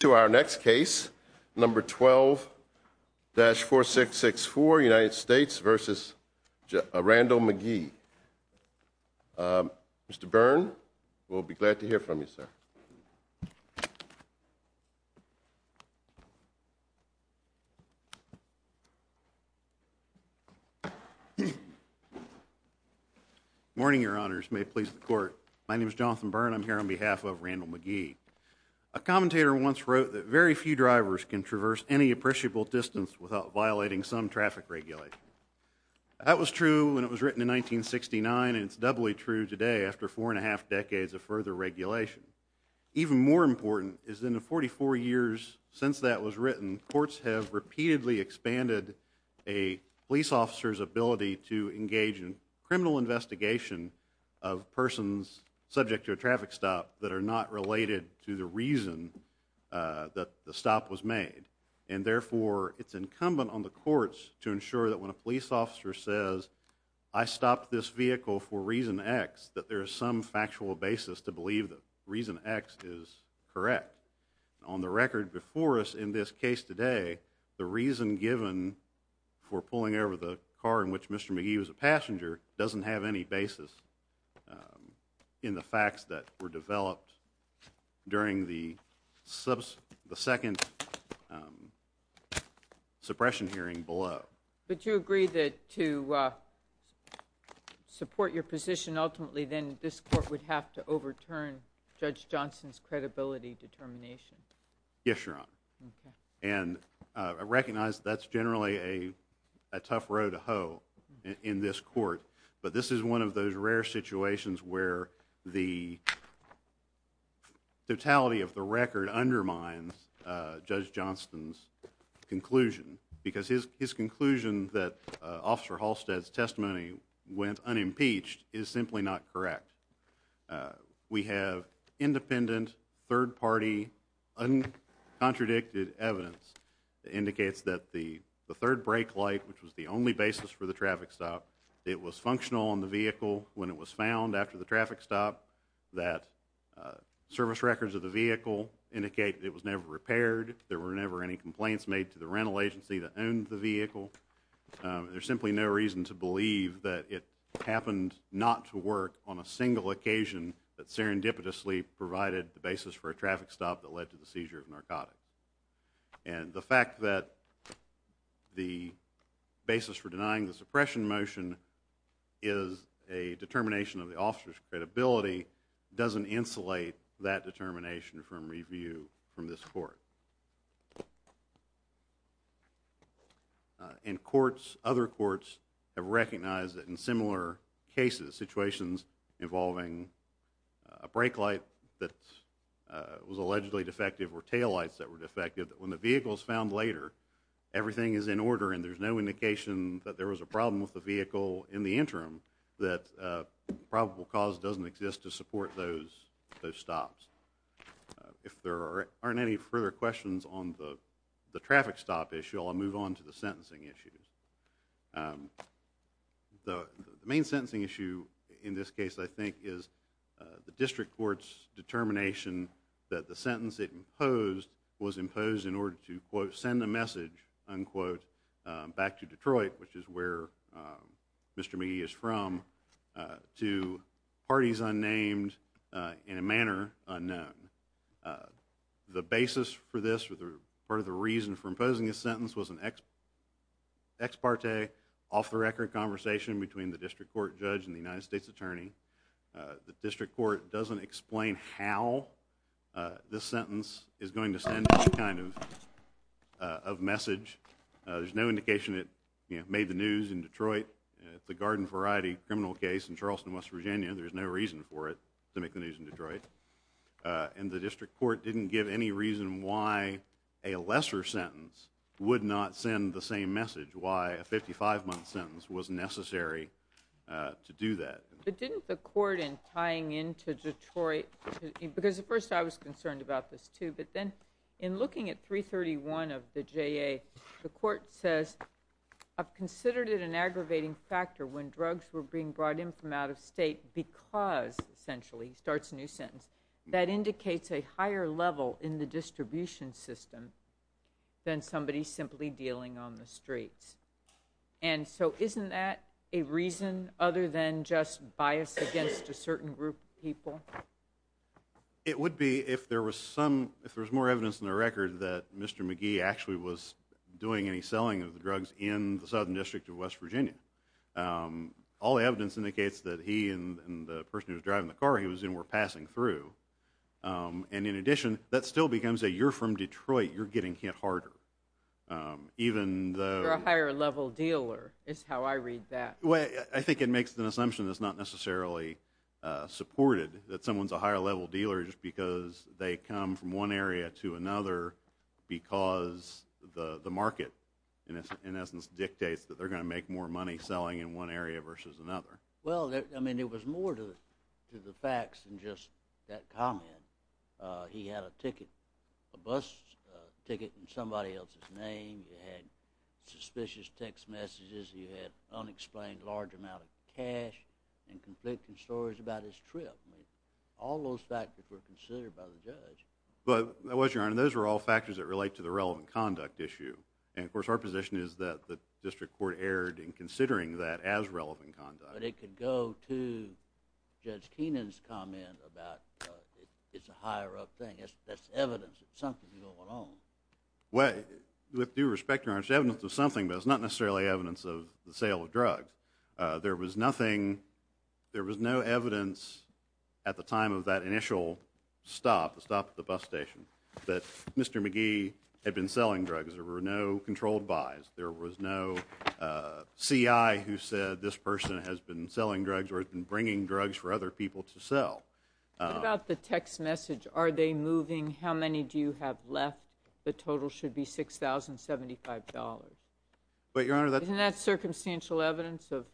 To our next case, number 12-4664, United States v. Randall McGee. Mr. Byrne, we'll be glad to hear from you, sir. Morning, your honors. May it please the court. My name is Jonathan Byrne. I'm here on behalf of Randall McGee. A commentator once wrote that very few drivers can traverse any appreciable distance without violating some traffic regulations. That was true when it was written in 1969, and it's doubly true today after four and a half decades of further regulation. Even more important is that in the 44 years since that was written, courts have repeatedly expanded a police officer's ability to engage in criminal investigation of persons subject to a traffic stop that are not related to the reason that the stop was made. And therefore, it's incumbent on the courts to ensure that when a police officer says, I stopped this vehicle for reason X, that there is some factual basis to believe that reason X is correct. On the record before us in this case today, the reason given for pulling over the car in which Mr. McGee was a passenger doesn't have any basis in the facts that were developed during the second suppression hearing below. But you agree that to support your position ultimately, then this court would have to overturn Judge Johnson's credibility determination? Yes, Your Honor. And I recognize that's generally a tough row to hoe in this court, but this is one of those rare situations where the totality of the record undermines Judge Johnson's conclusion, because his conclusion that Officer Halstead's testimony went unimpeached is simply not correct. We have independent, third-party, uncontradicted evidence that indicates that the third brake light, which was the only basis for the traffic stop, it was functional on the vehicle when it was found after the traffic stop, that service records of the vehicle indicate that it was never repaired, there were never any complaints made to the rental agency that owned the vehicle. There's simply no reason to believe that it happened not to work on a single occasion that serendipitously provided the basis for a traffic stop that led to the seizure of narcotics. And the fact that the basis for denying the suppression motion is a determination of the officer's credibility doesn't insulate that determination from review from this court. And courts, other courts, have recognized that in similar cases, situations involving a brake light that was allegedly defective or tail lights that were defective, that when the vehicle is found later, everything is in order and there's no indication that there was a problem with the vehicle in the interim, that probable cause doesn't exist to support those stops. If there aren't any further questions on the traffic stop issue, I'll move on to the sentencing issue. The main sentencing issue in this case, I think, is the district court's determination that the sentence it imposed was imposed in order to, quote, send a message, unquote, back to Detroit, which is where Mr. McGee is from, to parties unnamed in a manner unknown. The basis for this, or part of the reason for imposing this sentence, was an ex parte, off-the-record conversation between the district court judge and the United States attorney. The district court doesn't explain how this sentence is going to send any kind of message. There's no indication it made the news in Detroit. The Garden Variety criminal case in Charleston, West Virginia, there's no reason for it to make the news in Detroit. And the district court didn't give any reason why a lesser sentence would not send the same message, why a 55-month sentence was necessary to do that. But didn't the court, in tying into Detroit, because at first I was concerned about this too, but then in looking at 331 of the JA, the court says, I've considered it an aggravating factor when drugs were being brought in from out of state because, essentially, he starts a new sentence, that indicates a higher level in the distribution system than somebody simply dealing on the streets. And so isn't that a reason other than just bias against a certain group of people? It would be if there was some, if there was more evidence in the record that Mr. McGee actually was doing any selling of the drugs in the Southern District of West Virginia. All the evidence indicates that he and the person who was driving the car he was in were passing through. And in addition, that still becomes a, you're from Detroit, you're getting hit harder. You're a higher level dealer, is how I read that. I think it makes an assumption that's not necessarily supported, that someone's a higher level dealer just because they come from one area to another because the market, in essence, dictates that they're going to make more money selling in one area versus another. Well, I mean, it was more to the facts than just that comment. He had a ticket, a bus ticket in somebody else's name. He had suspicious text messages. He had unexplained large amounts of cash and conflicting stories about his trip. I mean, all those factors were considered by the judge. But, Your Honor, those were all factors that relate to the relevant conduct issue. And, of course, our position is that the District Court erred in considering that as relevant conduct. But it could go to Judge Keenan's comment about it's a higher up thing. That's evidence that something's going on. Well, with due respect, Your Honor, it's evidence of something, but it's not necessarily evidence of the sale of drugs. There was nothing, there was no evidence at the time of that initial stop, the stop at the bus station, that Mr. McGee had been selling drugs. There were no controlled buys. There was no C.I. who said this person has been selling drugs or has been bringing drugs for other people to sell. What about the text message? Are they moving? How many do you have left? The total should be $6,075. Isn't that circumstantial evidence of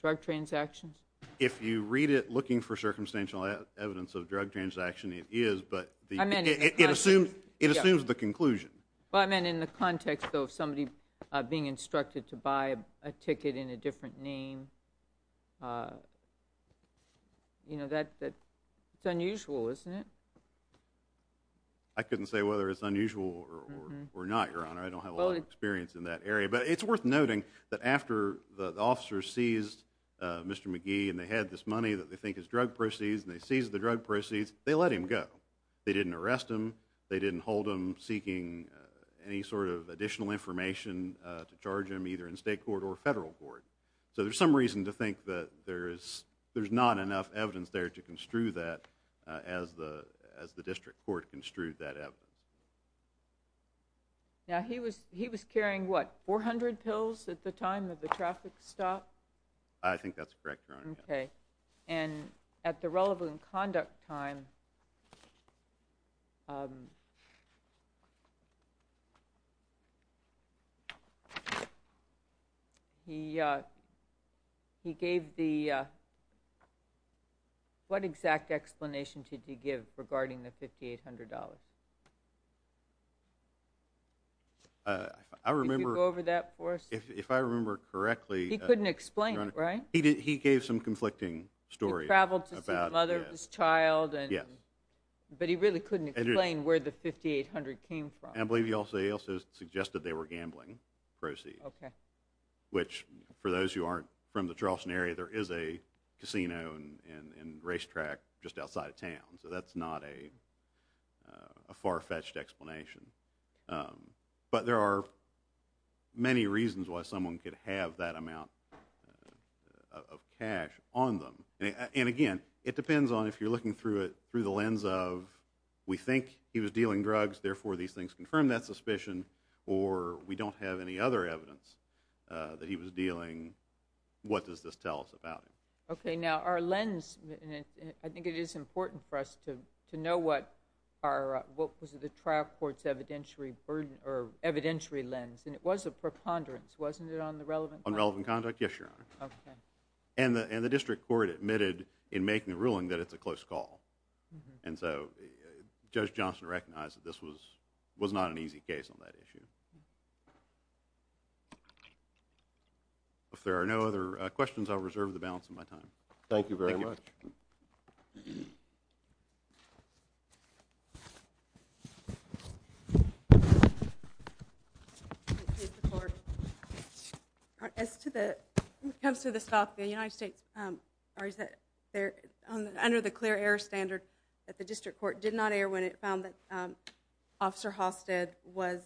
drug transactions? If you read it looking for circumstantial evidence of drug transaction, it is, but it assumes the conclusion. Well, I mean, in the context, though, of somebody being instructed to buy a ticket in a different name, you know, it's unusual, isn't it? I couldn't say whether it's unusual or not, Your Honor. I don't have a lot of experience in that area, but it's worth noting that after the officers seized Mr. McGee and they had this money that they think is drug proceeds and they seized the drug proceeds, they let him go. They didn't arrest him. They didn't hold him seeking any sort of additional information to charge him either in state court or federal court. So there's some reason to think that there's not enough evidence there to construe that as the district court construed that evidence. Now, he was carrying, what, 400 pills at the time of the traffic stop? I think that's correct, Your Honor. Okay. And at the relevant conduct time, he gave the, what exact explanation did he give regarding the $5,800? Did you go over that for us? If I remember correctly, He couldn't explain it, right? He gave some conflicting stories. He traveled to see the mother of his child, but he really couldn't explain where the $5,800 came from. And I believe he also suggested they were gambling proceeds. Okay. Which, for those who aren't from the Charleston area, there is a casino and racetrack just outside of town. So that's not a far-fetched explanation. But there are many reasons why someone could have that amount of cash on them. And again, it depends on if you're looking through the lens of, we think he was dealing drugs, therefore these things confirm that we don't have any other evidence that he was dealing, what does this tell us about him? Okay, now our lens, I think it is important for us to know what was the trial court's evidentiary lens. And it was a preponderance, wasn't it, on the relevant conduct? On relevant conduct, yes, Your Honor. Okay. And the district court admitted in making the ruling that it's a close call. And so Judge Johnson recognized that this was not an easy case on that issue. If there are no other questions, I'll reserve the balance of my time. Thank you very much. As to the, when it comes to the stock, the United States under the clear error standard that the district court did not err when it found that Officer Halstead was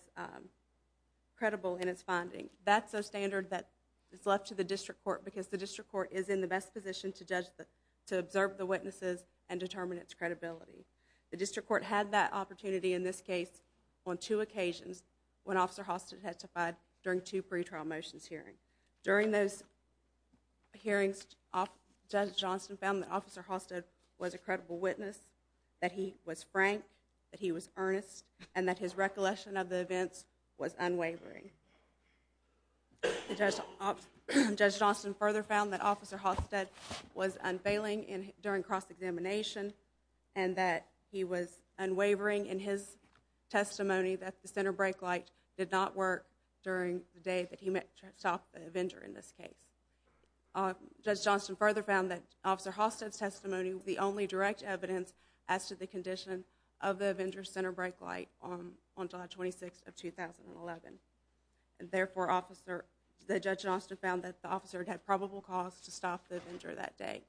credible in his finding. That's a standard that is left to the district court because the district court is in the best position to judge the, to observe the witnesses and determine its credibility. The district court had that opportunity in this case on two occasions when Officer Halstead testified during two pretrial motions hearings. During those hearings, Judge Johnson found that Officer Halstead was a frank, that he was earnest, and that his recollection of the events was unwavering. Judge Johnson further found that Officer Halstead was unfailing during cross-examination and that he was unwavering in his testimony that the center brake light did not work during the day that he met with the vendor in this case. Judge Johnson further found that Officer Halstead's testimony was the only direct evidence as to the condition of the vendor's center brake light on July 26th of 2011. Therefore, Officer Judge Johnson found that the officer had probable cause to stop the vendor that day.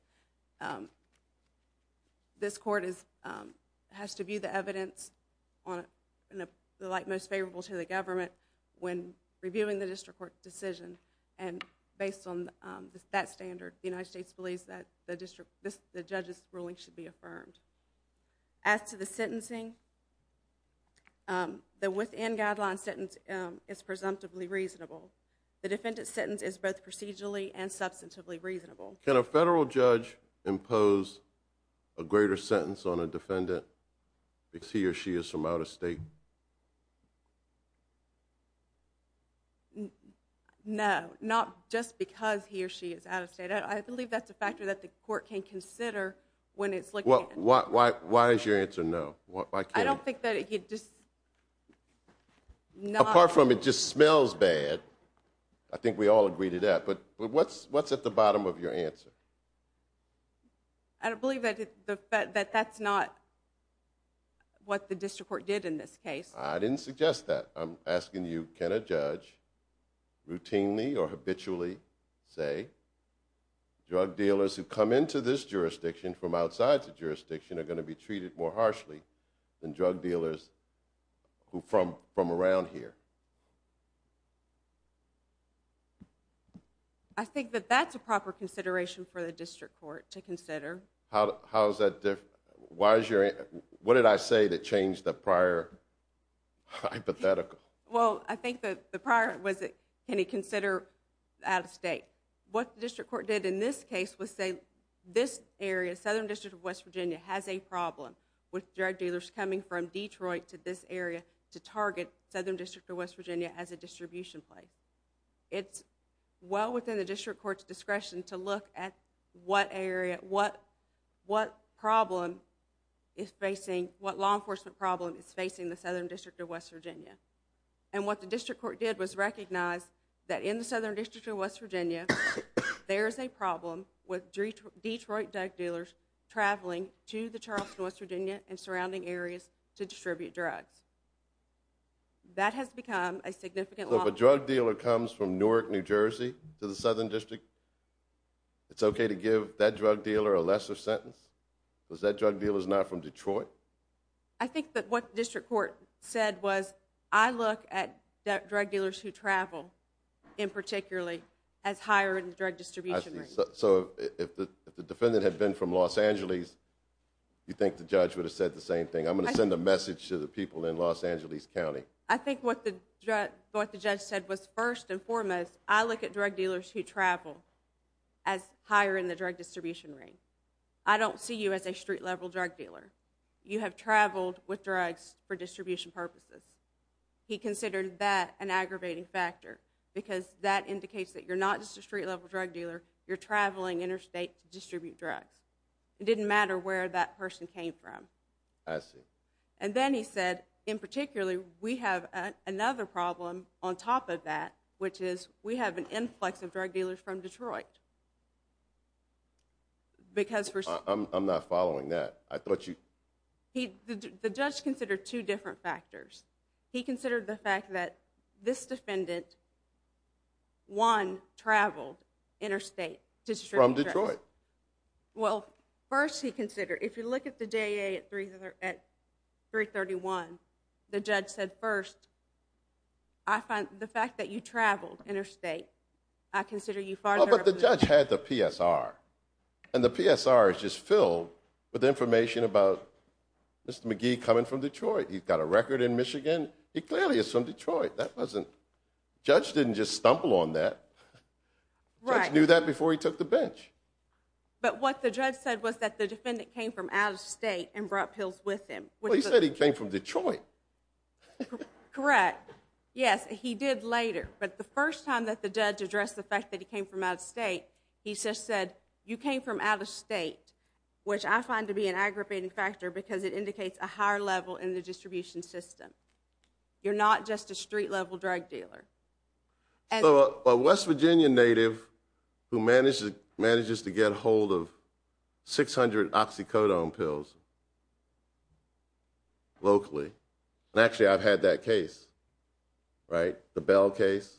This court is has to view the evidence in the light most favorable to the government when reviewing the district court decision and based on that standard, the United States believes that the district the judge's ruling should be affirmed. As to the sentencing the within guideline sentence is presumptively reasonable. The defendant's sentence is both procedurally and substantively reasonable. Can a federal judge impose a greater sentence on a defendant because he or she is from out of state? No, not just because he or she is out of state. I believe that's a factor that the court can consider. Why is your answer no? Apart from it just smells bad I think we all agree to that, but what's at the bottom of your answer? I don't believe that that's not what the district court did in this case. I didn't suggest that. I'm asking you, can a judge routinely or habitually say drug dealers who come into this jurisdiction from outside the jurisdiction are going to be treated more harshly than drug dealers from around here? I think that that's a proper consideration for the district court to consider. What did I say that changed the prior hypothetical? Well, I think the prior was can he consider out of state? What the district court did in this case was say this area, Southern District of West Virginia, has a problem with drug dealers coming from Detroit to this area to target Southern District of West Virginia as a distribution place. It's well within the district court's discretion to look at what area, what problem is facing what law enforcement problem is facing the Southern District of West Virginia. And what the district court did was recognize that in the Southern District of West Virginia, there is a problem with Detroit drug dealers traveling to the Charleston, West Virginia and surrounding areas to distribute drugs. That has become a significant law. So if a drug dealer comes from Newark, New Jersey to the Southern District, it's okay to give that drug dealer a lesser sentence? Because that drug dealer is not from Detroit? I think that what the district court said was I look at drug dealers who travel in particularly as hiring drug distribution. So if the defendant had been from Los Angeles, you think the judge would have said the same thing? I'm going to send a message to the people in Los Angeles County. I think what the judge said was first and foremost I look at drug dealers who travel as hiring the drug distribution rate. I don't see you as a street level drug dealer. You have traveled with drugs for distribution purposes. He considered that an aggravating factor because that indicates that you're not just a street level drug dealer, you're traveling interstate to distribute drugs. It didn't matter where that person came from. And then he said in particularly we have another problem on top of that which is we have an influx of drug dealers from Detroit. I'm not following that. The judge considered two different factors. He considered the fact that this defendant one, traveled interstate to distribute drugs. Well first he considered, if you look at the J.A. at 331, the judge said first I find the fact that you traveled interstate I consider you farther. Oh but the judge had the PSR and the PSR is just filled with information about Mr. McGee coming from Detroit. He's got a record in Michigan. He clearly is from Detroit. Judge didn't just stumble on that. Judge knew that before he took the bench. But what the judge said was that the defendant came from out of state and brought pills with him. Well he said he came from Detroit. Correct. Yes, he did later. But the first time that the judge addressed the fact that he came from out of state he just said you came from out of state which I find to be an aggravating factor because it indicates a higher level in the distribution system. You're not just a street level drug dealer. A West Virginia native who manages to get a hold of 600 oxycodone pills locally. And actually I've had that case. The Bell case.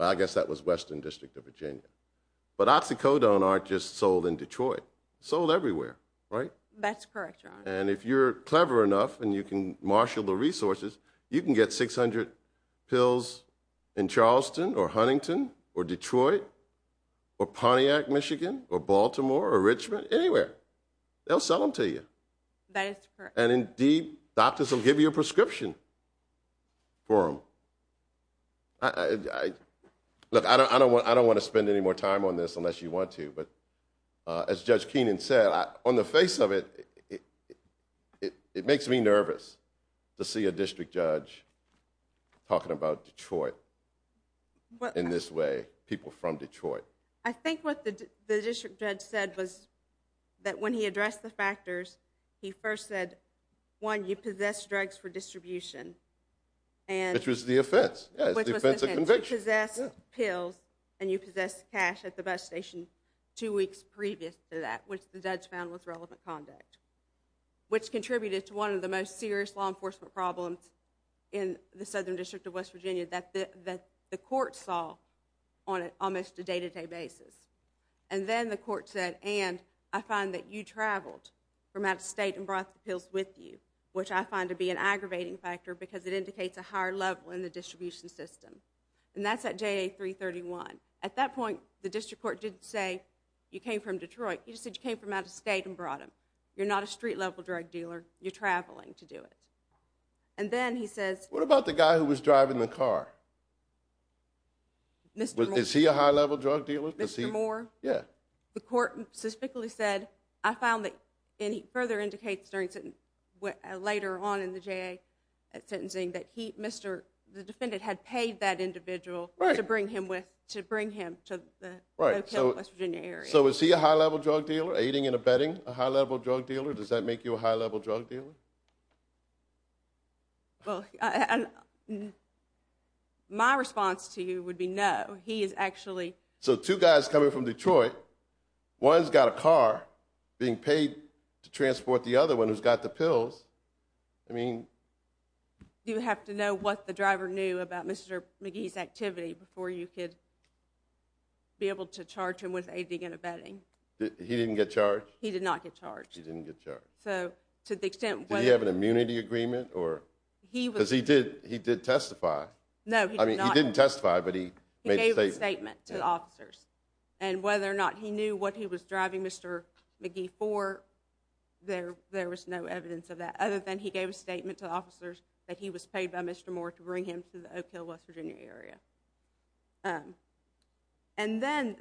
I guess that was Western District of Virginia. But oxycodone aren't just sold in Detroit. It's sold everywhere. That's correct. And if you're clever enough and you can marshal the resources you can get 600 pills in Charleston or Huntington or Detroit or Pontiac Michigan or Baltimore or Richmond anywhere. They'll sell them to you. That is correct. And indeed doctors will give you a prescription for them. Look I don't want to spend any more time on this unless you want to. But as Judge Keenan said on the face of it, it makes me nervous to see a district judge talking about Detroit in this way. People from Detroit. I think what the district judge said was that when he addressed the factors he first said, one, you possess drugs for distribution. Which was the offense. The offense of conviction. You possess pills and you possess cash at the bus station two weeks previous to that. Which the judge found was relevant conduct. Which contributed to one of the most serious law enforcement problems in the Southern District of West Virginia that the court saw on almost a day to day basis. And then the court said, and I find that you traveled from out of state and brought the pills with you. Which I find to be an aggravating factor because it indicates a higher level in the distribution system. And that's at JA 331. At that point the district court didn't say you came from Detroit. He just said you came from out of state and brought them. You're not a street level drug dealer. You're traveling to do it. And then he says. What about the guy who was driving the car? Is he a high level drug dealer? Mr. Moore. The court specifically said, I found that and it further indicates later on in the JA sentencing that the defendant had paid that individual to bring him to the West Virginia area. So is he a high level drug dealer? Aiding and abetting a high level drug dealer? Does that make you a high level drug dealer? My response to you would be no. So two guys coming from Detroit. One's got a car being paid to transport the other one who's got the pills. Do you have to know what the driver knew about Mr. McGee's activity before you could be able to charge him with aiding and abetting? He did not get charged. Did he have an immunity agreement? Because he did testify. He didn't testify, but he made a statement. And whether or not he knew what he was driving Mr. McGee for there was no evidence of that. Other than he gave a statement to the officers that he was paid by Mr. Moore to bring him to the Oak Hill West Virginia area. And then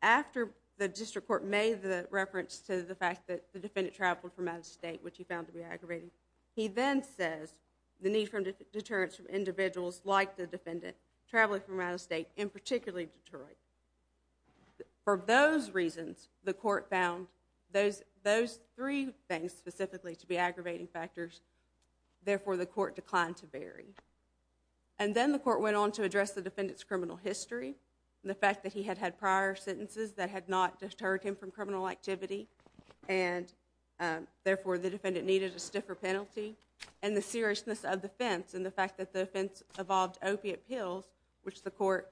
after the district court made the reference to the fact that the defendant traveled from out of state, which he found to be aggravating, he then says the need for deterrence from individuals like the defendant traveling from out of state and particularly Detroit. For those reasons the court found those three things specifically to be aggravating factors. Therefore the court declined to bury. And then the court went on to address the defendant's criminal history and the fact that he had had prior sentences that had not deterred him from criminal activity and therefore the defendant needed a stiffer penalty. And the seriousness of the offense and the fact that the offense involved opiate pills, which the court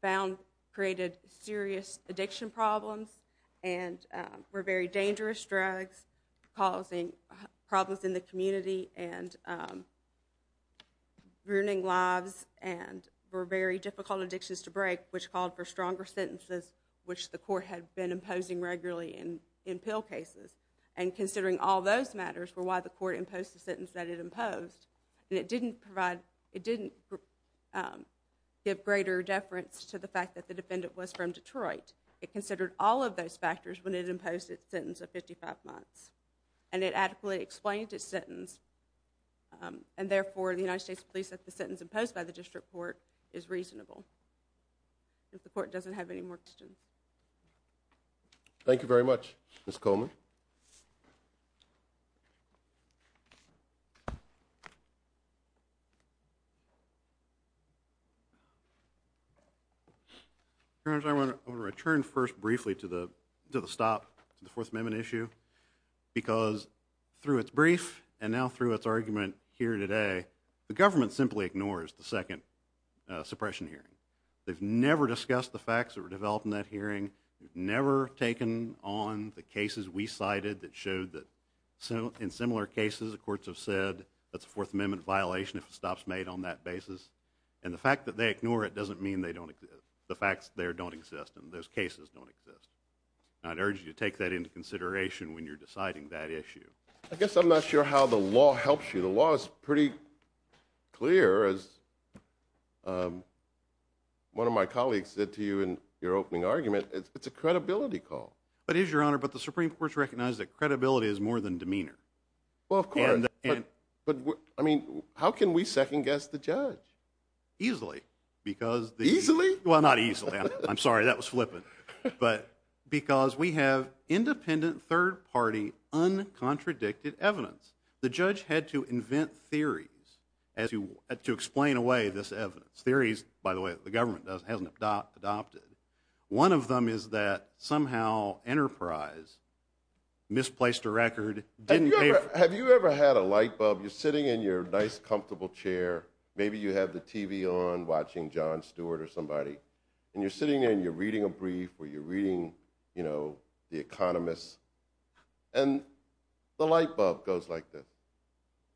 found created serious addiction problems and were very dangerous drugs causing problems in the community and ruining lives and were very difficult addictions to break which called for stronger sentences which the court had been imposing regularly in pill cases. And considering all those matters were why the court imposed the sentence that it imposed and it didn't provide, it didn't give greater deference to the fact that the defendant was from Detroit. It considered all of those factors when it imposed its sentence of 55 months. And it adequately explained its sentence and therefore the United States Police said the sentence imposed by the district court is reasonable. If the court doesn't have any more questions. Thank you very much, Ms. Coleman. Your Honor, I want to return first briefly to the stop to the Fourth Amendment issue because through its brief and now through its argument here today, the government simply ignores the second suppression hearing. They've never discussed the facts that were developed in that hearing. They've never taken on the cases we cited that showed that in similar cases the courts have said that's a Fourth Amendment violation if it stops made on that basis. And the fact that they ignore it doesn't mean the facts there don't exist and those cases don't exist. And I'd urge you to take that into consideration when you're deciding that issue. I guess I'm not sure how the law helps you. The law is pretty clear as one of my colleagues said to you in your opening argument, it's a credibility call. It is, Your Honor, but the Supreme Court recognizes that credibility is more than demeanor. How can we second guess the judge? Easily. Easily? Well, not easily. I'm sorry, that was flippant. Because we have independent third party uncontradicted evidence. The judge had to invent theories to explain away this evidence. Theories, by the way, the government hasn't adopted. One of them is that somehow Enterprise misplaced a record. Have you ever had a light bulb? You're sitting in your nice comfortable chair maybe you have the TV on watching Jon Stewart or somebody and you're sitting there and you're reading a brief where you're reading, you know, the economists and the light bulb goes like this.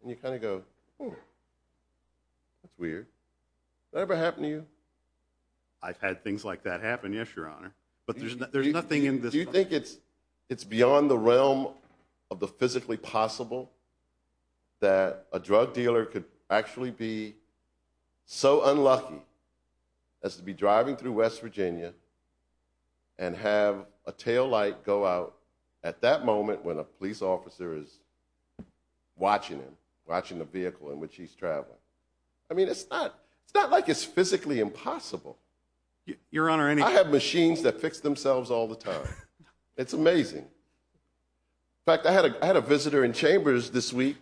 And you kind of go, oh, that's weird. Has that ever happened to you? I've had things like that happen, yes, Your Honor. But there's nothing in this. Do you think it's beyond the realm of the physically possible that a drug dealer could actually be so unlucky as to be driving through West Virginia and have a tail light go out at that moment when a police officer is watching him, watching the vehicle in which he's traveling? I mean, it's not like it's physically impossible. I have machines that fix themselves all the time. It's amazing. In fact, I had a visitor in Chambers this week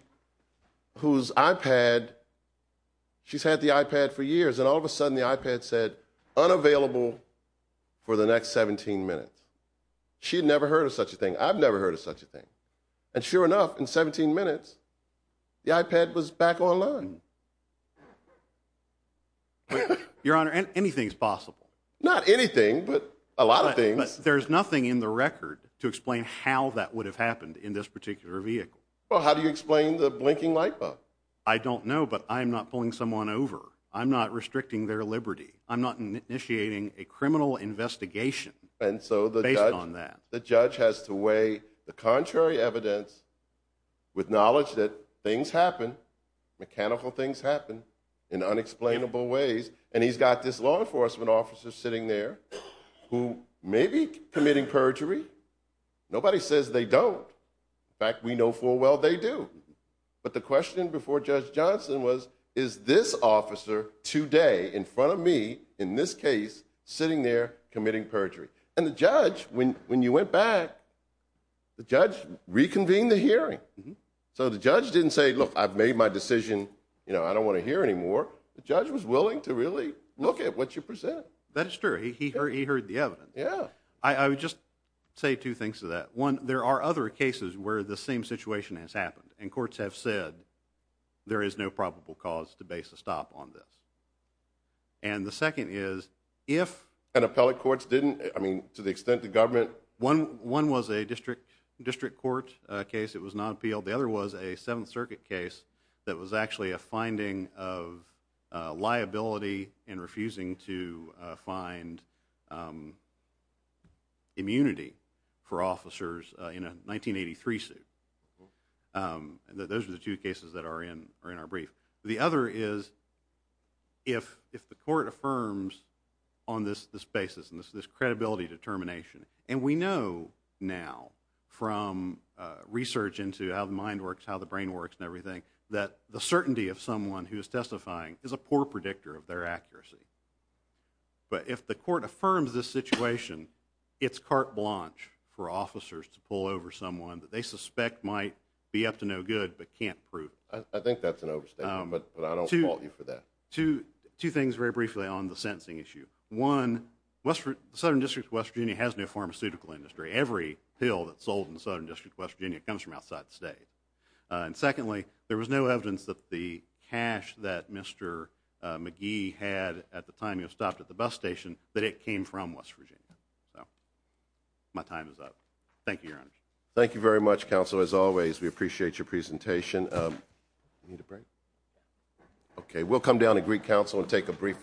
whose iPad, she's had the iPad for years and all of a sudden the iPad said, unavailable for the next 17 minutes. She had never heard of such a thing. I've never heard of such a thing. And sure enough, in 17 minutes the iPad was back online. Your Honor, anything's possible. Not anything, but a lot of things. There's nothing in the record to explain how that would have happened in this particular vehicle. Well, how do you explain the blinking light bulb? I don't know, but I'm not pulling someone over. I'm not restricting their liberty. I'm not initiating a criminal investigation based on that. The judge has to weigh the contrary evidence with knowledge that things happen, mechanical things happen in unexplainable ways, and he's got this law enforcement officer sitting there who may be committing perjury. Nobody says they don't. In fact, we know full well they do. But the question before Judge Johnson was, is this officer today in front of me, in this case, sitting there committing perjury? And the judge, when you went back, the judge reconvened the hearing. So the judge didn't say, look, I've made my decision I don't want to hear anymore. The judge was willing to really look at what you present. That is true. He heard the evidence. Yeah. I would just say two things to that. One, there are other cases where the same situation has happened, and courts have said there is no probable cause to base a stop on this. And the second is, if an appellate court didn't, to the extent the government One was a district court case that was not appealed. The other was a 7th Circuit case that was actually a finding of liability in refusing to find immunity for officers in a 1983 suit. Those are the two cases that are in our brief. The other is if the court affirms on this basis and this credibility determination, and we know now from research into how the mind works, how the brain works and everything, that the certainty of someone who is testifying is a poor predictor of their accuracy. But if the court affirms this situation it's carte blanche for officers to pull over someone that they suspect might be up to no good but can't prove it. I think that's an overstatement, but I don't fault you for that. Two things very briefly on the sentencing issue. One, the Southern District of West Virginia has no pharmaceutical industry. Every pill that's sold in the Southern District of West Virginia comes from outside the state. And secondly, there was no evidence that the cash that Mr. McGee had at the time he stopped at the bus station, that it came from West Virginia. My time is up. Thank you, Your Honor. Thank you very much, counsel. As always, we appreciate your presentation. Okay, we'll come down to Greek Council and take a brief recess.